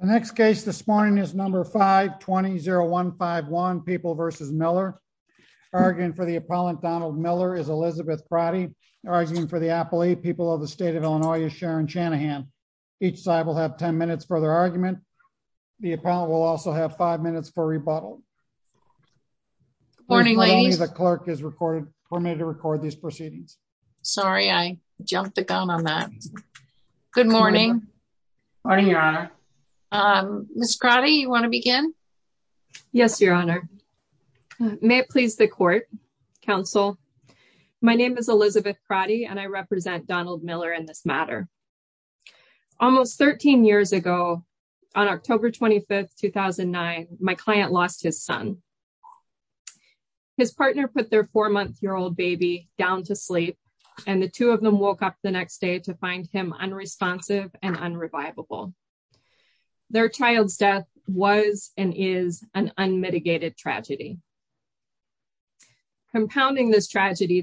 The next case this morning is number 520151 People v. Miller. Arguing for the appellant Donald Miller is Elizabeth Pratti. Arguing for the appellee People of the State of Illinois is Sharon Chanahan. Each side will have 10 minutes for their argument. The appellant will also have 5 minutes for rebuttal. Good morning ladies. The clerk is permitted to record these proceedings. Sorry, I jumped the gun on that. Good morning. Morning, your honor. Ms. Pratti, you want to begin? Yes, your honor. May it please the court, counsel. My name is Elizabeth Pratti and I represent Donald Miller in this matter. Almost 13 years ago, on October 25, 2009, my client lost his son. His partner put their four-month-old baby down to sleep and the two of them woke up to find him unresponsive and unrevivable. Their child's death was and is an unmitigated tragedy. Compounding this tragedy,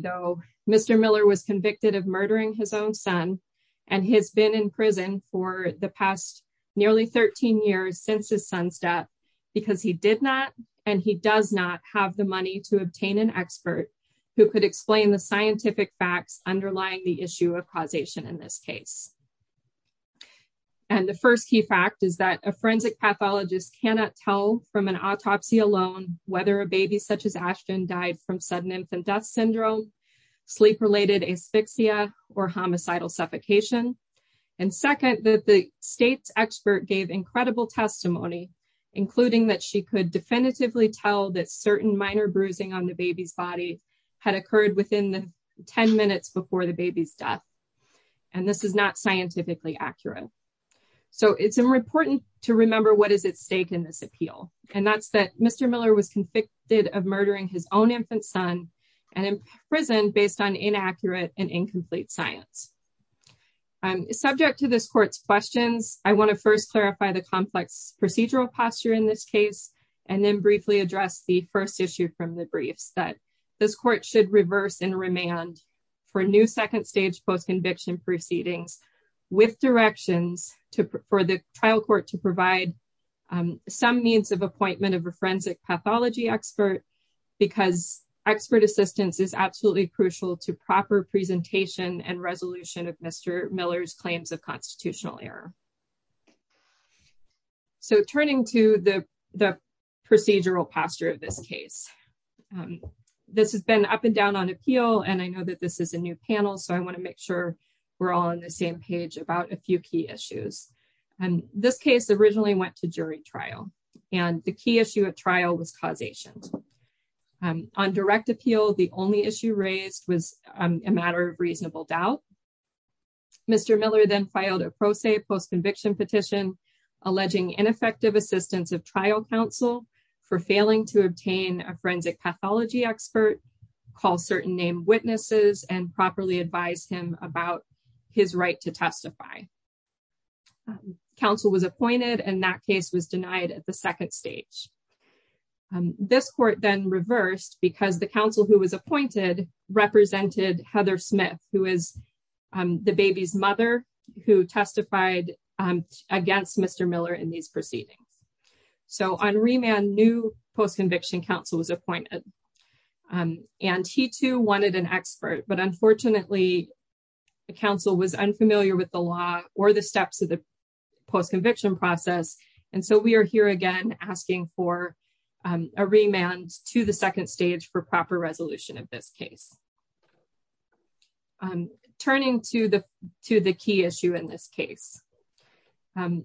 Mr. Miller was convicted of murdering his own son and has been in prison for the past nearly 13 years since his son's death because he did not and he does not have the money to obtain an expert who could explain the scientific facts underlying the issue of causation in this case. And the first key fact is that a forensic pathologist cannot tell from an autopsy alone whether a baby such as Ashton died from sudden infant death syndrome, sleep-related asphyxia, or homicidal suffocation. And second, that the state's expert gave incredible testimony, including that she could definitively tell that certain minor bruising on the baby's body had occurred within the 10 minutes before the baby's death. And this is not scientifically accurate. So it's important to remember what is at stake in this appeal. And that's that Mr. Miller was convicted of murdering his own infant son and in prison based on inaccurate and incomplete science. Subject to this court's questions, I want to first clarify the complex procedural posture in this case and then briefly address the first issue from the briefs that this court should reverse and remand for new second stage post-conviction proceedings with directions for the trial court to provide some means of appointment of a forensic pathology expert because expert assistance is absolutely crucial to proper presentation and resolution of Mr. Miller's claims of constitutional error. So turning to the procedural posture of this case, this has been up and down on appeal and I know that this is a new panel, so I want to make sure we're all on the same page about a few key issues. And this case originally went to jury trial and the key issue of trial was causation. On direct appeal, the only issue raised was a matter of reasonable doubt. Mr. Miller then filed a pro se post-conviction petition alleging ineffective assistance of trial counsel for failing to obtain a forensic pathology expert, call certain name witnesses and properly advise him about his right to testify. Counsel was appointed and that case was denied at the second stage. This court then reversed because the counsel who was appointed represented Heather Smith, who is the baby's mother, who testified against Mr. Miller in these proceedings. So on remand, new post-conviction counsel was appointed and he too wanted an expert, but unfortunately the counsel was unfamiliar with the law or the steps of the post-conviction process. And so we are here again asking for a remand to the second stage for proper resolution of this case. Turning to the key issue in this case, um,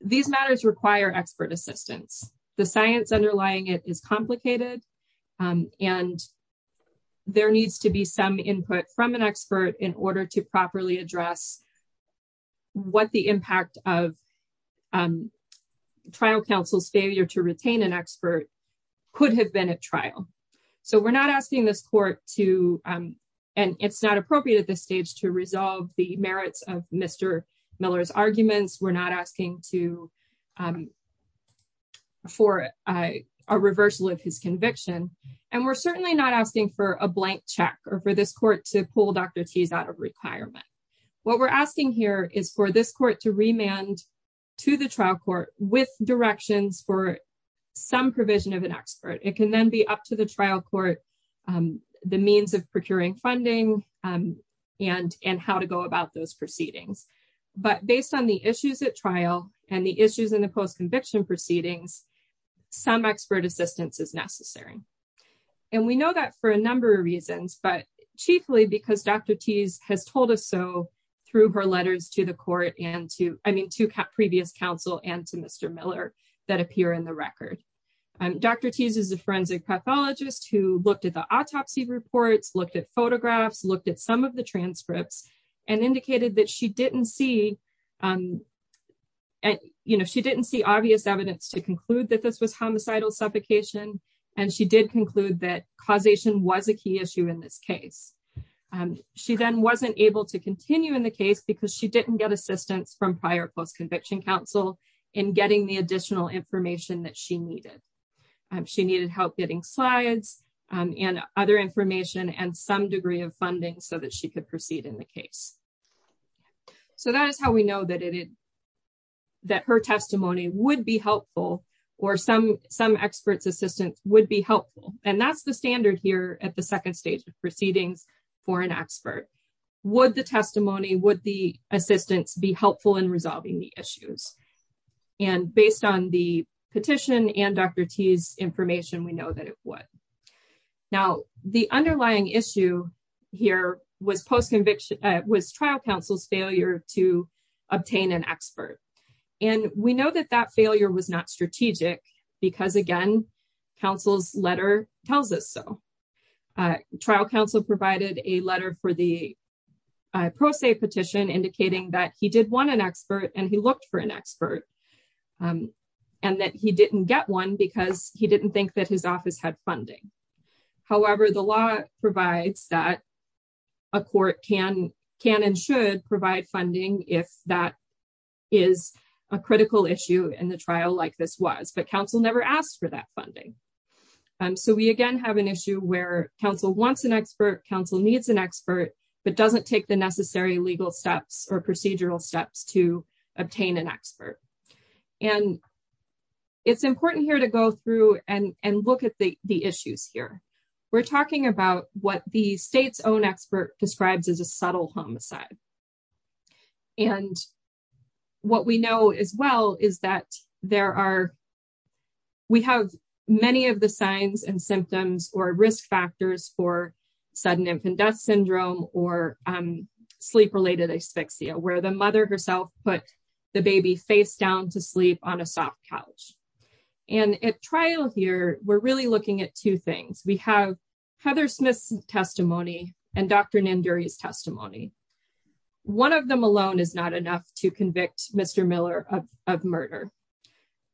these matters require expert assistance. The science underlying it is complicated and there needs to be some input from an expert in order to properly address what the impact of trial counsel's failure to retain an expert could have been at trial. So we're not asking this court to, and it's not appropriate at this stage to resolve the merits of Mr. Miller's arguments. We're not asking for a reversal of his conviction and we're certainly not asking for a blank check or for this court to pull Dr. Tease out of requirement. What we're asking here is for this court to remand to the trial court with directions for some provision of an expert. It can then be up to the trial court, the means of procuring funding and how to go about those proceedings. But based on the issues at trial and the issues in the post-conviction proceedings, some expert assistance is necessary. And we know that for a number of reasons, but chiefly because Dr. Tease has told us so through her letters to the court and to, I mean, to previous counsel and to Mr. Miller that appear in the record. Dr. Tease is a forensic pathologist who looked at the autopsy reports, looked at photographs, looked at some of the transcripts and indicated that she didn't see obvious evidence to conclude that this was homicidal suffocation. And she did conclude that causation was a key issue in this case. She then wasn't able to continue in the case because she didn't get assistance from prior post-conviction counsel in getting the additional information that she needed. She needed help getting slides and other information and some degree of funding so that she could proceed in the case. So that is how we know that her testimony would be helpful or some experts assistance would be helpful. And that's the standard here at the second stage of proceedings for an expert. And based on the petition and Dr. Tease's information, we know that it would. Now, the underlying issue here was trial counsel's failure to obtain an expert. And we know that that failure was not strategic because again, counsel's letter tells us so. Trial counsel provided a letter for the pro se petition indicating that he did want an expert and he looked for an expert. And that he didn't get one because he didn't think that his office had funding. However, the law provides that a court can and should provide funding if that is a critical issue in the trial like this was. But counsel never asked for that funding. So we again have an issue where counsel wants an expert, counsel needs an expert, but doesn't take the necessary legal steps or procedural steps to obtain an expert. And it's important here to go through and look at the issues here. We're talking about what the state's own expert describes as a subtle homicide. And what we know as well is that there are, we have many of the signs and symptoms or risk factors for sudden infant death syndrome or sleep-related asphyxia where the mother herself put the baby face down to sleep on a soft couch. And at trial here, we're really looking at two things. We have Heather Smith's testimony and Dr. Nanduri's testimony. One of them alone is not enough to convict Mr. Miller of murder.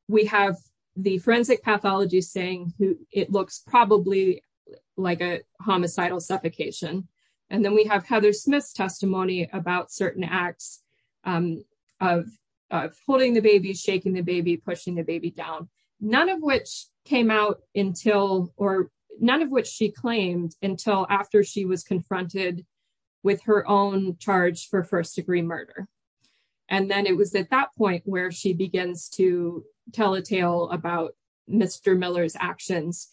We have the forensic pathology saying it looks probably like a homicidal suffocation. And then we have Heather Smith's testimony about certain acts of holding the baby, shaking the baby, pushing the baby down, none of which came out until or none of which she claimed until after she was confronted with her own charge for first degree murder. And then it was at that point where she begins to tell a tale about Mr. Miller's actions.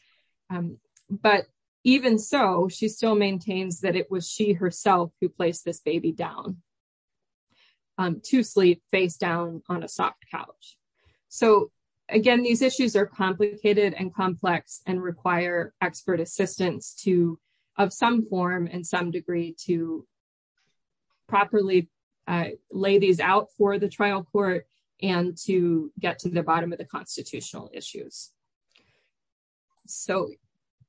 But even so, she still maintains that it was she herself who placed this baby down to sleep face down on a soft couch. So again, these issues are complicated and complex and require expert assistance to, of some form and some degree to properly lay these out for the trial court and to get to the bottom of the constitutional issues. So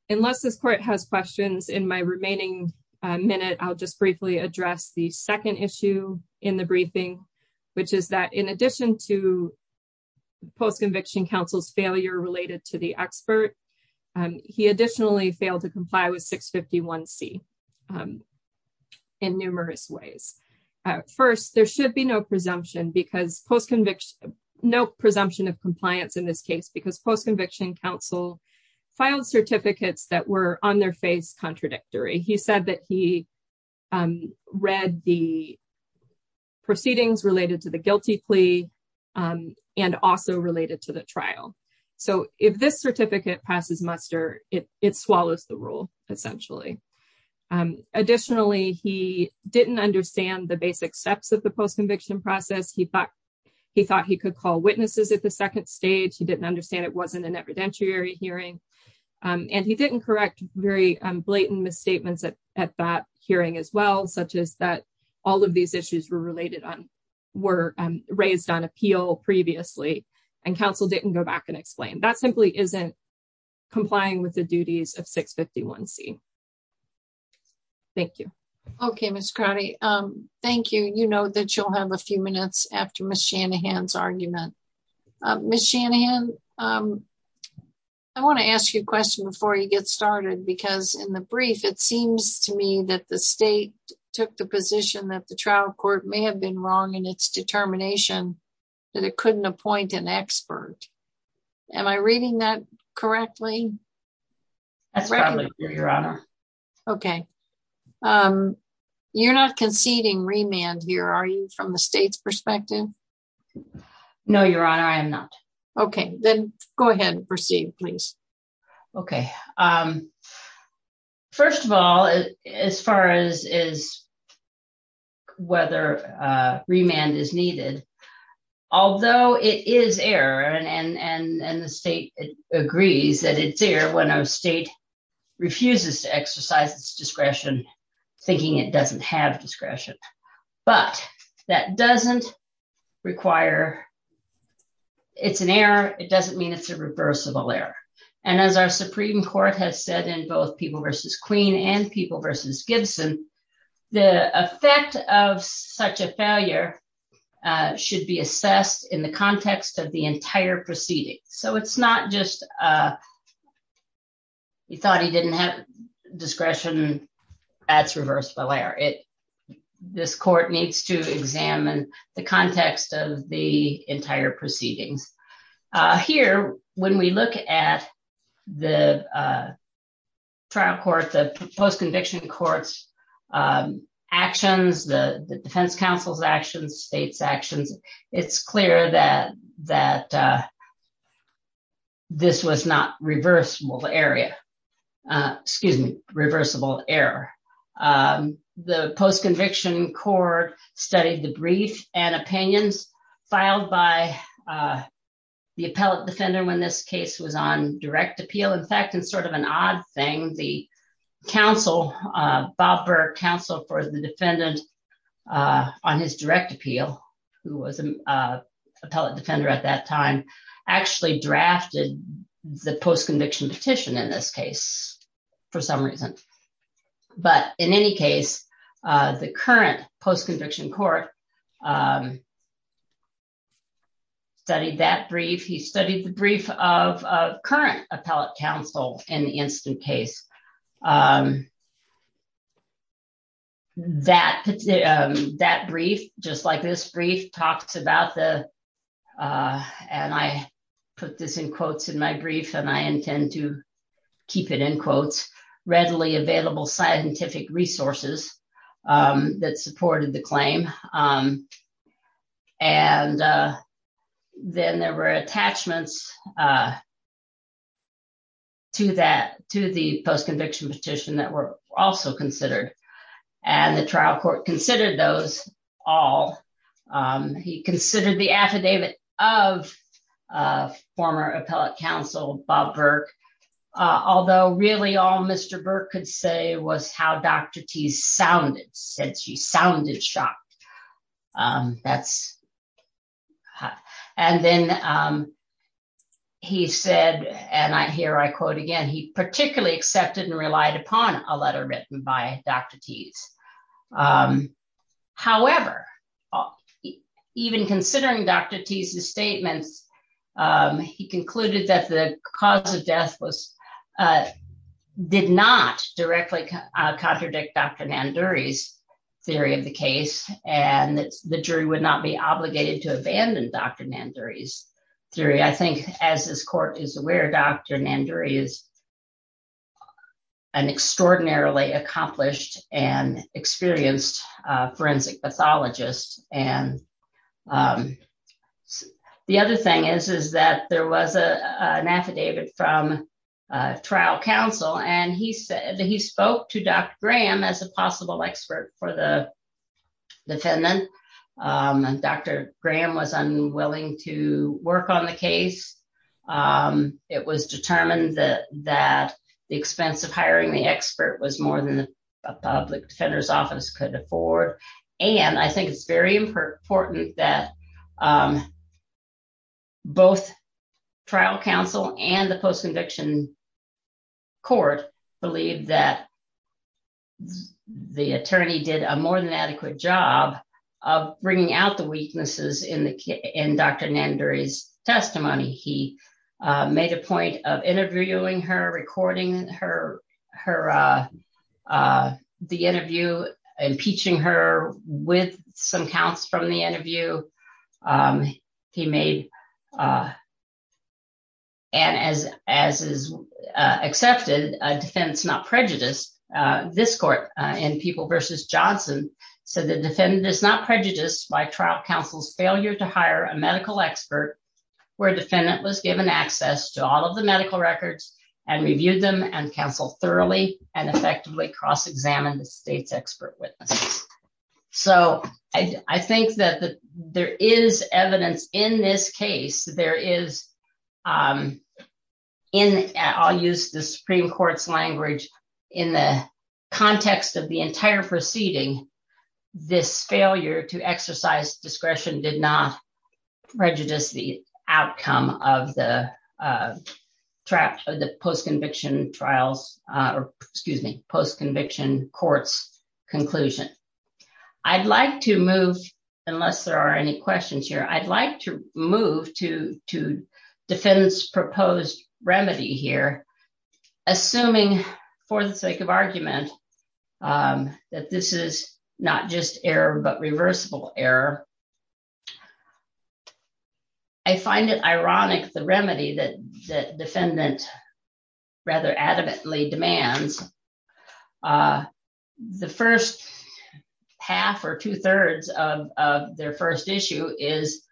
unless this court has questions in my remaining minute, I'll just briefly address the second issue in the briefing, which is that in addition to post-conviction counsel's failure related to the expert, he additionally failed to comply with 651C in numerous ways. First, there should be no presumption of compliance in this case because post-conviction counsel filed certificates that were on their face contradictory. He said that he read the proceedings related to the guilty plea and also related to the trial. So if this certificate passes muster, it swallows the rule essentially. Additionally, he didn't understand the basic steps of the post-conviction process. He thought he could call witnesses at the second stage. He didn't understand it wasn't an evidentiary hearing. And he didn't correct very blatant misstatements at that hearing as well, such as that all of these issues were raised on appeal previously and counsel didn't go back and explain. That simply isn't complying with the duties of 651C. Thank you. Okay, Ms. Crowdy. Thank you. You know that you'll have a few minutes after Ms. Shanahan's argument. Ms. Shanahan, I want to ask you a question before you get started because in the brief, it seems to me that the state took the position that the trial court may have been wrong in its determination that it couldn't appoint an expert. Am I reading that correctly? That's correct, Your Honor. Okay. You're not conceding remand here, are you, from the state's perspective? No, Your Honor, I am not. Okay. Then go ahead and proceed, please. Okay. First of all, as far as whether remand is needed, although it is error and the state agrees that it's error when a state refuses to exercise its discretion, thinking it doesn't have discretion, but that doesn't require, it's an error, it doesn't mean it's a reversible error. And as our Supreme Court has said in both People v. Queen and People v. Gibson, the effect of such a failure should be assessed in the context of the entire proceeding. So it's not just, you thought he didn't have discretion, that's reversible error. This court needs to examine the context of the entire proceedings. Here, when we look at the trial court, the post-conviction court's actions, the defense counsel's actions, state's actions, it's clear that this was not reversible error. The post-conviction court studied the brief and opinions filed by the appellate defender when this case was on direct appeal. In fact, it's sort of an odd thing. The counsel, Bob Burke, counsel for the defendant on his direct appeal, who was an appellate defender at that time, actually drafted the post-conviction petition in this case for some reason. But in any case, the current post-conviction court studied that brief. He studied the brief of current appellate counsel in the instant case. That brief, just like this brief, talks about the, and I put this in quotes in my brief, and I intend to keep it in quotes, readily available scientific resources that supported the claim. And then there were attachments to the post-conviction petition that were also considered. And the trial court considered those all. He considered the affidavit of former appellate counsel, Bob Burke, although really all Mr. Burke could say was how Dr. Teese sounded, since she sounded shocked. And then he said, and here I quote again, he particularly accepted and relied upon a letter written by Dr. Teese. He concluded that the cause of death did not directly contradict Dr. Nanduri's theory of the case, and the jury would not be obligated to abandon Dr. Nanduri's theory. I think as this court is aware, Dr. Nanduri is an extraordinarily accomplished and experienced forensic pathologist. And the other thing is that there was an affidavit from trial counsel, and he said that he spoke to Dr. Graham as a possible expert for the defendant. Dr. Graham was unwilling to work on the case. It was determined that the expense of hiring the expert was more than a public defender's office could afford. And I think it's very important that both trial counsel and the post-conviction court believe that the attorney did a more than adequate job of bringing out the weaknesses in Dr. Nanduri's testimony. He made a point of interviewing her, recording her, uh, the interview, impeaching her with some counts from the interview. He made, and as is accepted, a defense not prejudiced. This court in People v. Johnson said the defendant is not prejudiced by trial counsel's failure to hire a medical expert where defendant was given access to all of the medical records and reviewed them and counseled thoroughly and effectively cross-examined the state's expert witnesses. So I think that there is evidence in this case. There is, um, in, I'll use the Supreme Court's language, in the context of the entire proceeding, this failure to exercise discretion did not trap the post-conviction trials, uh, or excuse me, post-conviction court's conclusion. I'd like to move, unless there are any questions here, I'd like to move to, to defend this proposed remedy here, assuming for the sake of argument, um, that this is not just error, but reversible error. I find it ironic, the remedy that, that defendant rather adamantly demands, uh, the first half or two thirds of, of their first issue is,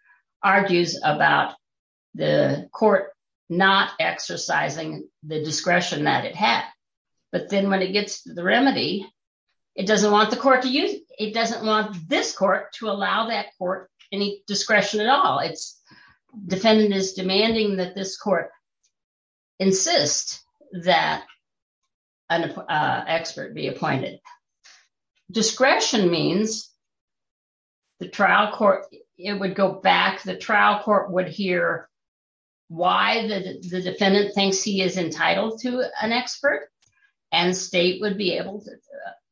argues about the court not exercising the discretion that it had. But then when it gets to the remedy, it doesn't want the court to use, it doesn't want this to allow that court any discretion at all. It's defendant is demanding that this court insist that an expert be appointed. Discretion means the trial court, it would go back, the trial court would hear why the defendant thinks he is entitled to an expert and state would be able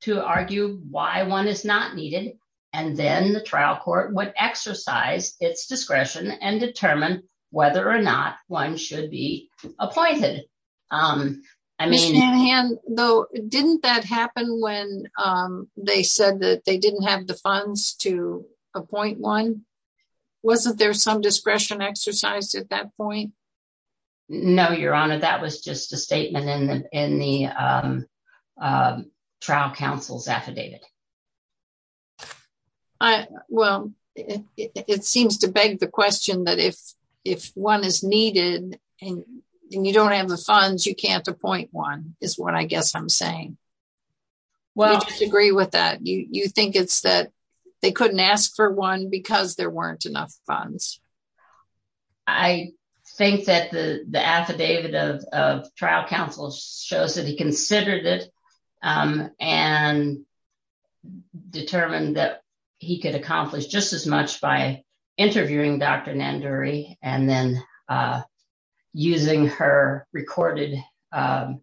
to argue why one is not needed and then the trial court would exercise its discretion and determine whether or not one should be appointed. Um, I mean, though, didn't that happen when, um, they said that they didn't have the funds to appoint one? Wasn't there some discretion exercise at that point? No, your honor. That was just a statement in the, in the, um, um, trial counsel's affidavit. I, well, it, it, it seems to beg the question that if, if one is needed and you don't have the funds, you can't appoint one is what I guess I'm saying. Well, I agree with that. You, you think it's that they couldn't ask for one because there weren't enough funds. I think that the, the affidavit of, of trial counsel shows that he considered it, um, and determined that he could accomplish just as much by interviewing Dr. Nanduri and then, uh, using her recorded, um,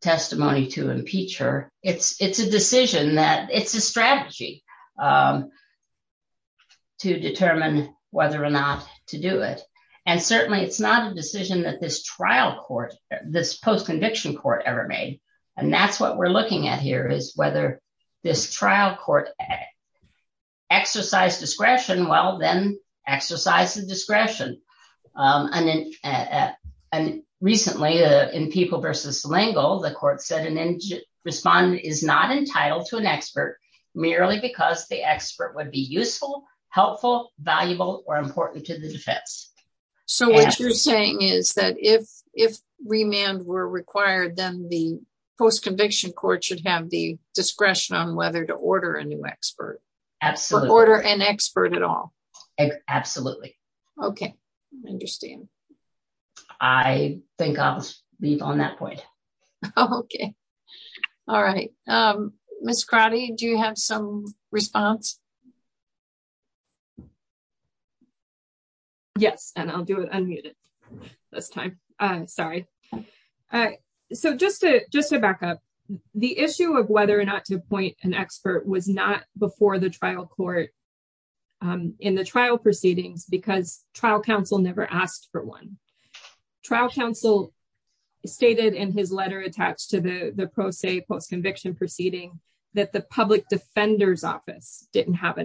testimony to impeach her. It's, it's a decision that it's a strategy, um, to determine whether or not to do it. And certainly it's not a decision that this trial court, this post-conviction court ever made. And that's what we're looking at here is whether this trial court exercise discretion, well, then exercise the discretion. Um, and then, uh, uh, and recently, uh, in people versus L'Engle, the court said an respondent is not entitled to an expert merely because the expert would be useful, helpful, valuable, or important to the defense. So what you're saying is that if, if remand were required, then the post-conviction court should have the discretion on whether to order a new expert, order an expert at all. Absolutely. Okay. I understand. I think I'll leave on that point. Okay. All right. Um, Ms. Crotty, do you have some response? Yes. And I'll do it unmuted this time. Uh, sorry. All right. So just to, just to back up the issue of whether or not to appoint an expert was not before the trial court, um, in the trial proceedings because trial counsel never asked for one trial counsel stated in his letter attached to the, the pro se post-conviction proceeding that the public defender's office didn't have the discretion to do it. So,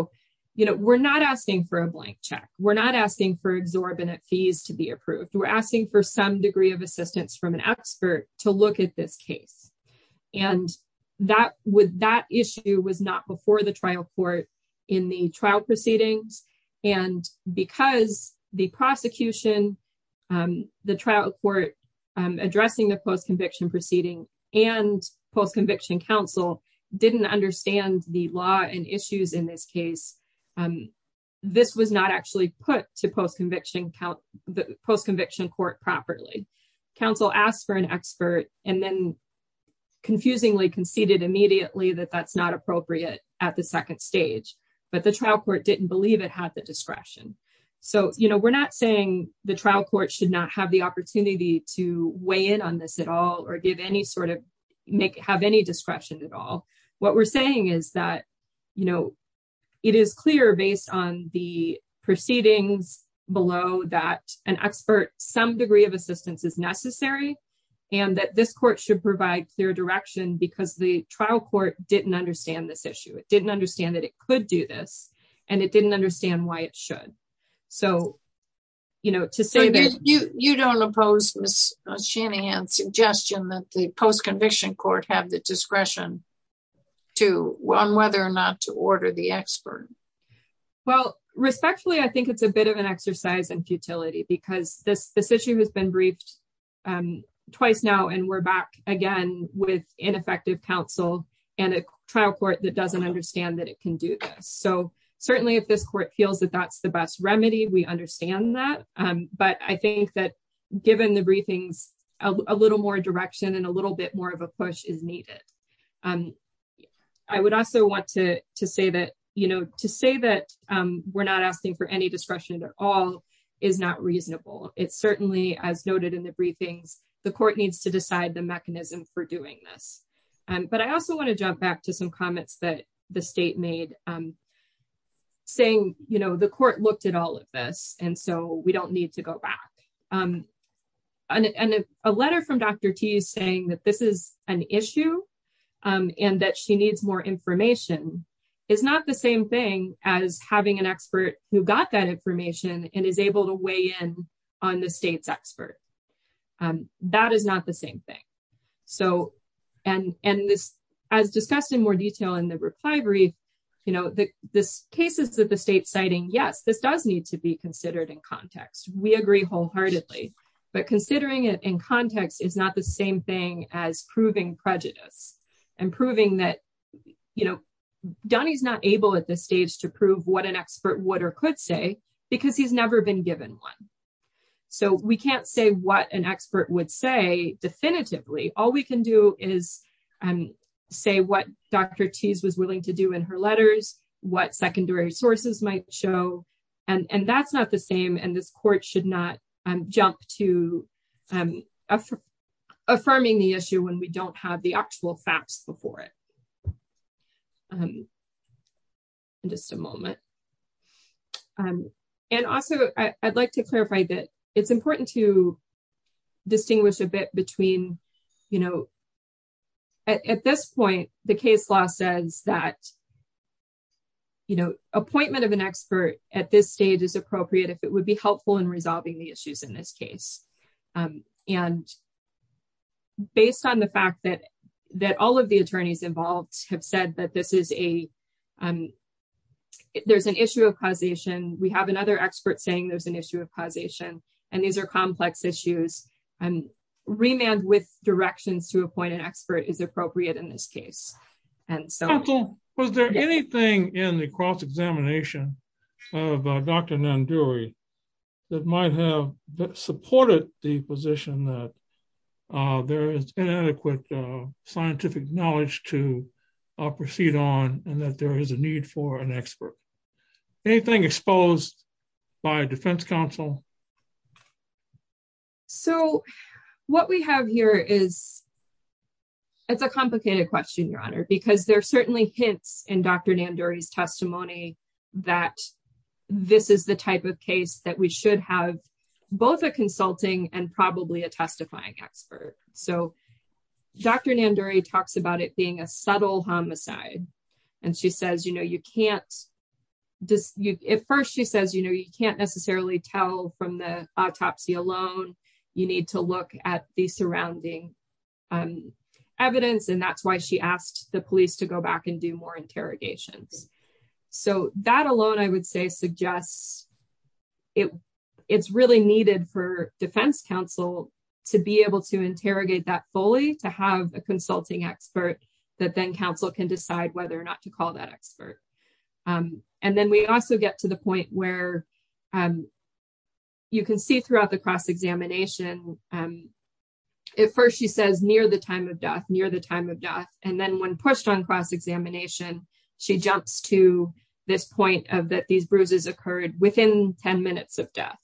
um, you know, we're not asking for a blank check, we're not asking for exorbitant fees to be approved. We're asking for some degree of assistance from an expert to look at this case. And that would, that issue was not before the trial court in the trial proceedings. And because the prosecution, um, the trial court, um, addressing the post-conviction proceeding and post-conviction counsel didn't understand the law and issues in this case. Um, this was not actually put to post-conviction count the post-conviction court properly. Counsel asked for an expert and then confusingly conceded immediately that that's not appropriate at the second stage, but the trial court didn't believe it had the discretion. So, you know, we're not saying the trial court should not have the opportunity to weigh in on this at all, or give any sort of make, have any discretion at all. What we're saying is that, you know, it is clear based on the proceedings below that an expert, some degree of assistance is necessary and that this court should provide clear direction because the trial court didn't understand this issue. It didn't understand that it could do this and it didn't understand why it should. So, you know, to say that you, you don't oppose Ms. Shanahan's suggestion that the post-conviction court have the discretion. To whether or not to order the expert. Well, respectfully, I think it's a bit of an exercise in futility because this, this issue has been briefed twice now and we're back again with ineffective counsel and a trial court that doesn't understand that it can do this. So certainly if this court feels that that's the best remedy, we understand that. But I think that given the briefings, a little more direction and a little bit more of a I would also want to say that, you know, to say that we're not asking for any discretion at all is not reasonable. It's certainly as noted in the briefings, the court needs to decide the mechanism for doing this. But I also want to jump back to some comments that the state made saying, you know, the court looked at all of this and so we don't need to go back. And a letter from Dr. T saying that this is an issue and that she needs more information is not the same thing as having an expert who got that information and is able to weigh in on the state's expert. That is not the same thing. So, and, and this as discussed in more detail in the reply brief, you know, the cases that the state's citing, yes, this does need to be considered in context. We agree wholeheartedly. But considering it in context is not the same thing as proving prejudice and proving that, you know, Donnie's not able at this stage to prove what an expert would or could say because he's never been given one. So we can't say what an expert would say definitively. All we can do is say what Dr. T's was willing to do in her letters, what secondary sources might show, and that's not the same. And this court should not jump to affirming the issue when we don't have the actual facts before it. Just a moment. And also, I'd like to clarify that it's important to distinguish a bit between, you know, at this point, the case law says that, you know, appointment of an expert at this stage is appropriate if it would be helpful in resolving the issues in this case. And based on the fact that, that all of the attorneys involved have said that this is a, there's an issue of causation. We have another expert saying there's an issue of causation. And these are complex issues. And remand with directions to appoint an expert is appropriate in this case. And so... Counsel, was there anything in the cross-examination of Dr. Nanduri that might have supported the position that there is inadequate scientific knowledge to proceed on and that there is a need for an expert? Anything exposed by defense counsel? So, what we have here is, it's a complicated question, Your Honor, because there are certainly hints in Dr. Nanduri's testimony that this is the type of case that we should have both a consulting and probably a testifying expert. So, Dr. Nanduri talks about it being a subtle homicide. And she says, you know, you can't, at first she says, you know, you can't necessarily tell from the autopsy alone. You need to look at the surrounding evidence. And that's why she asked the police to go back and do more interrogations. So, that alone, I would say, suggests it's really needed for defense counsel to be able to interrogate that fully, to have a consulting expert that then counsel can decide whether or not to call that expert. And then we also get to the point where, you can see throughout the cross-examination, at first she says, near the time of death, near the time of death. And then when pushed on cross-examination, she jumps to this point of that these bruises occurred within 10 minutes of death.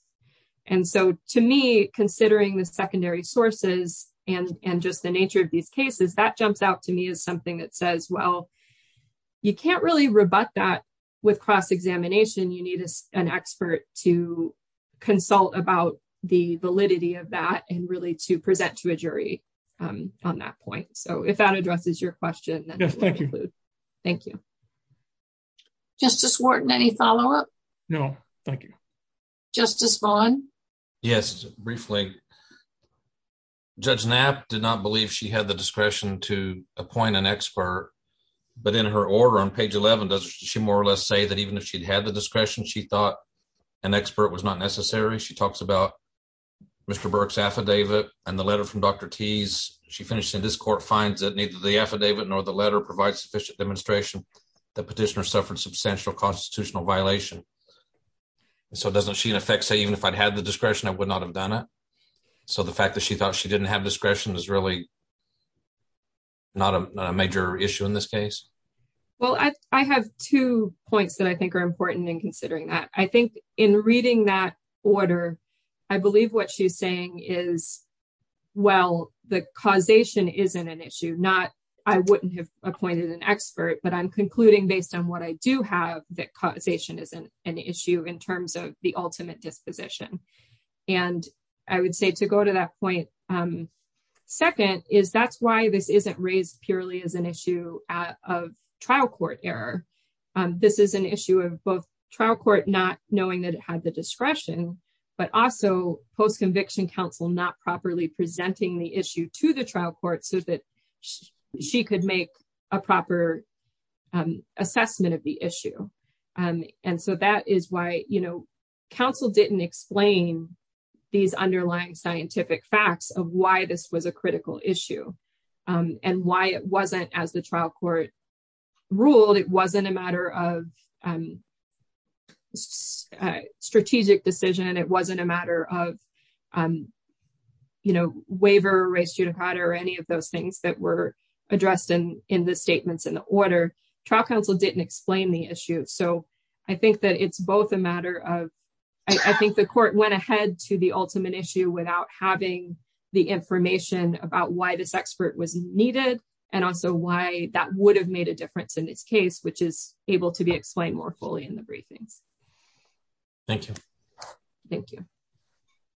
And so, to me, considering the secondary sources and just the nature of these cases, that jumps out to me as something that says, well, you can't really rebut that with cross-examination. You need an expert to consult about the validity of that and really to present to a jury on that point. So, if that addresses your question, then thank you. Justice Wharton, any follow-up? No, thank you. Justice Vaughn? Yes, briefly. Judge Knapp did not believe she had the discretion to appoint an expert, but in her order on page 11, does she more or less say that even if she'd had the discretion, she thought an expert was not necessary? She talks about Mr. Burke's affidavit and the letter from Dr. Teese. She finishes, and this court finds that neither the affidavit nor the letter provides sufficient demonstration that petitioner suffered substantial constitutional violation. So, doesn't she, in effect, say, even if I'd had the discretion, I would not have done it? So, the fact that she thought she didn't have discretion is really not a major issue in this case? Well, I have two points that I think are important in considering that. I think in reading that order, I believe what she's saying is, well, the causation isn't an issue. I wouldn't have appointed an expert, but I'm concluding based on what I do have that causation isn't an issue in terms of the ultimate disposition. And I would say to go to that point, second, is that's why this isn't raised purely as an issue of trial court error. This is an issue of both trial court not knowing that it had the discretion, but also post conviction counsel not properly presenting the issue to the trial court so that she could make a proper assessment of the issue. And so, that is why counsel didn't explain these underlying scientific facts of why this was a critical issue and why it wasn't as the trial court ruled. It wasn't a matter of strategic decision. It wasn't a matter of waiver, res judicata, or any of those things that were addressed in the statements in the order. Trial counsel didn't explain the issue. So, I think that it's both a matter of, I think the court went ahead to the ultimate issue without having the information about why this expert was needed and also why that would have made a difference in this case, which is able to be explained more fully in the briefings. Thank you. Thank you.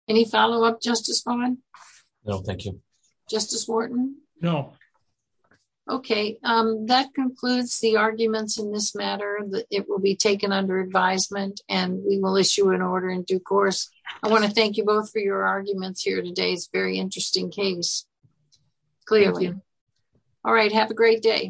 Any follow-up, Justice Vaughn? No, thank you. Justice Wharton? No. Okay. That concludes the arguments in this matter. It will be taken under advisement and we will issue an order in due course. I want to thank you both for your arguments here today. It's a very interesting case. Clearly. All right. Have a great day.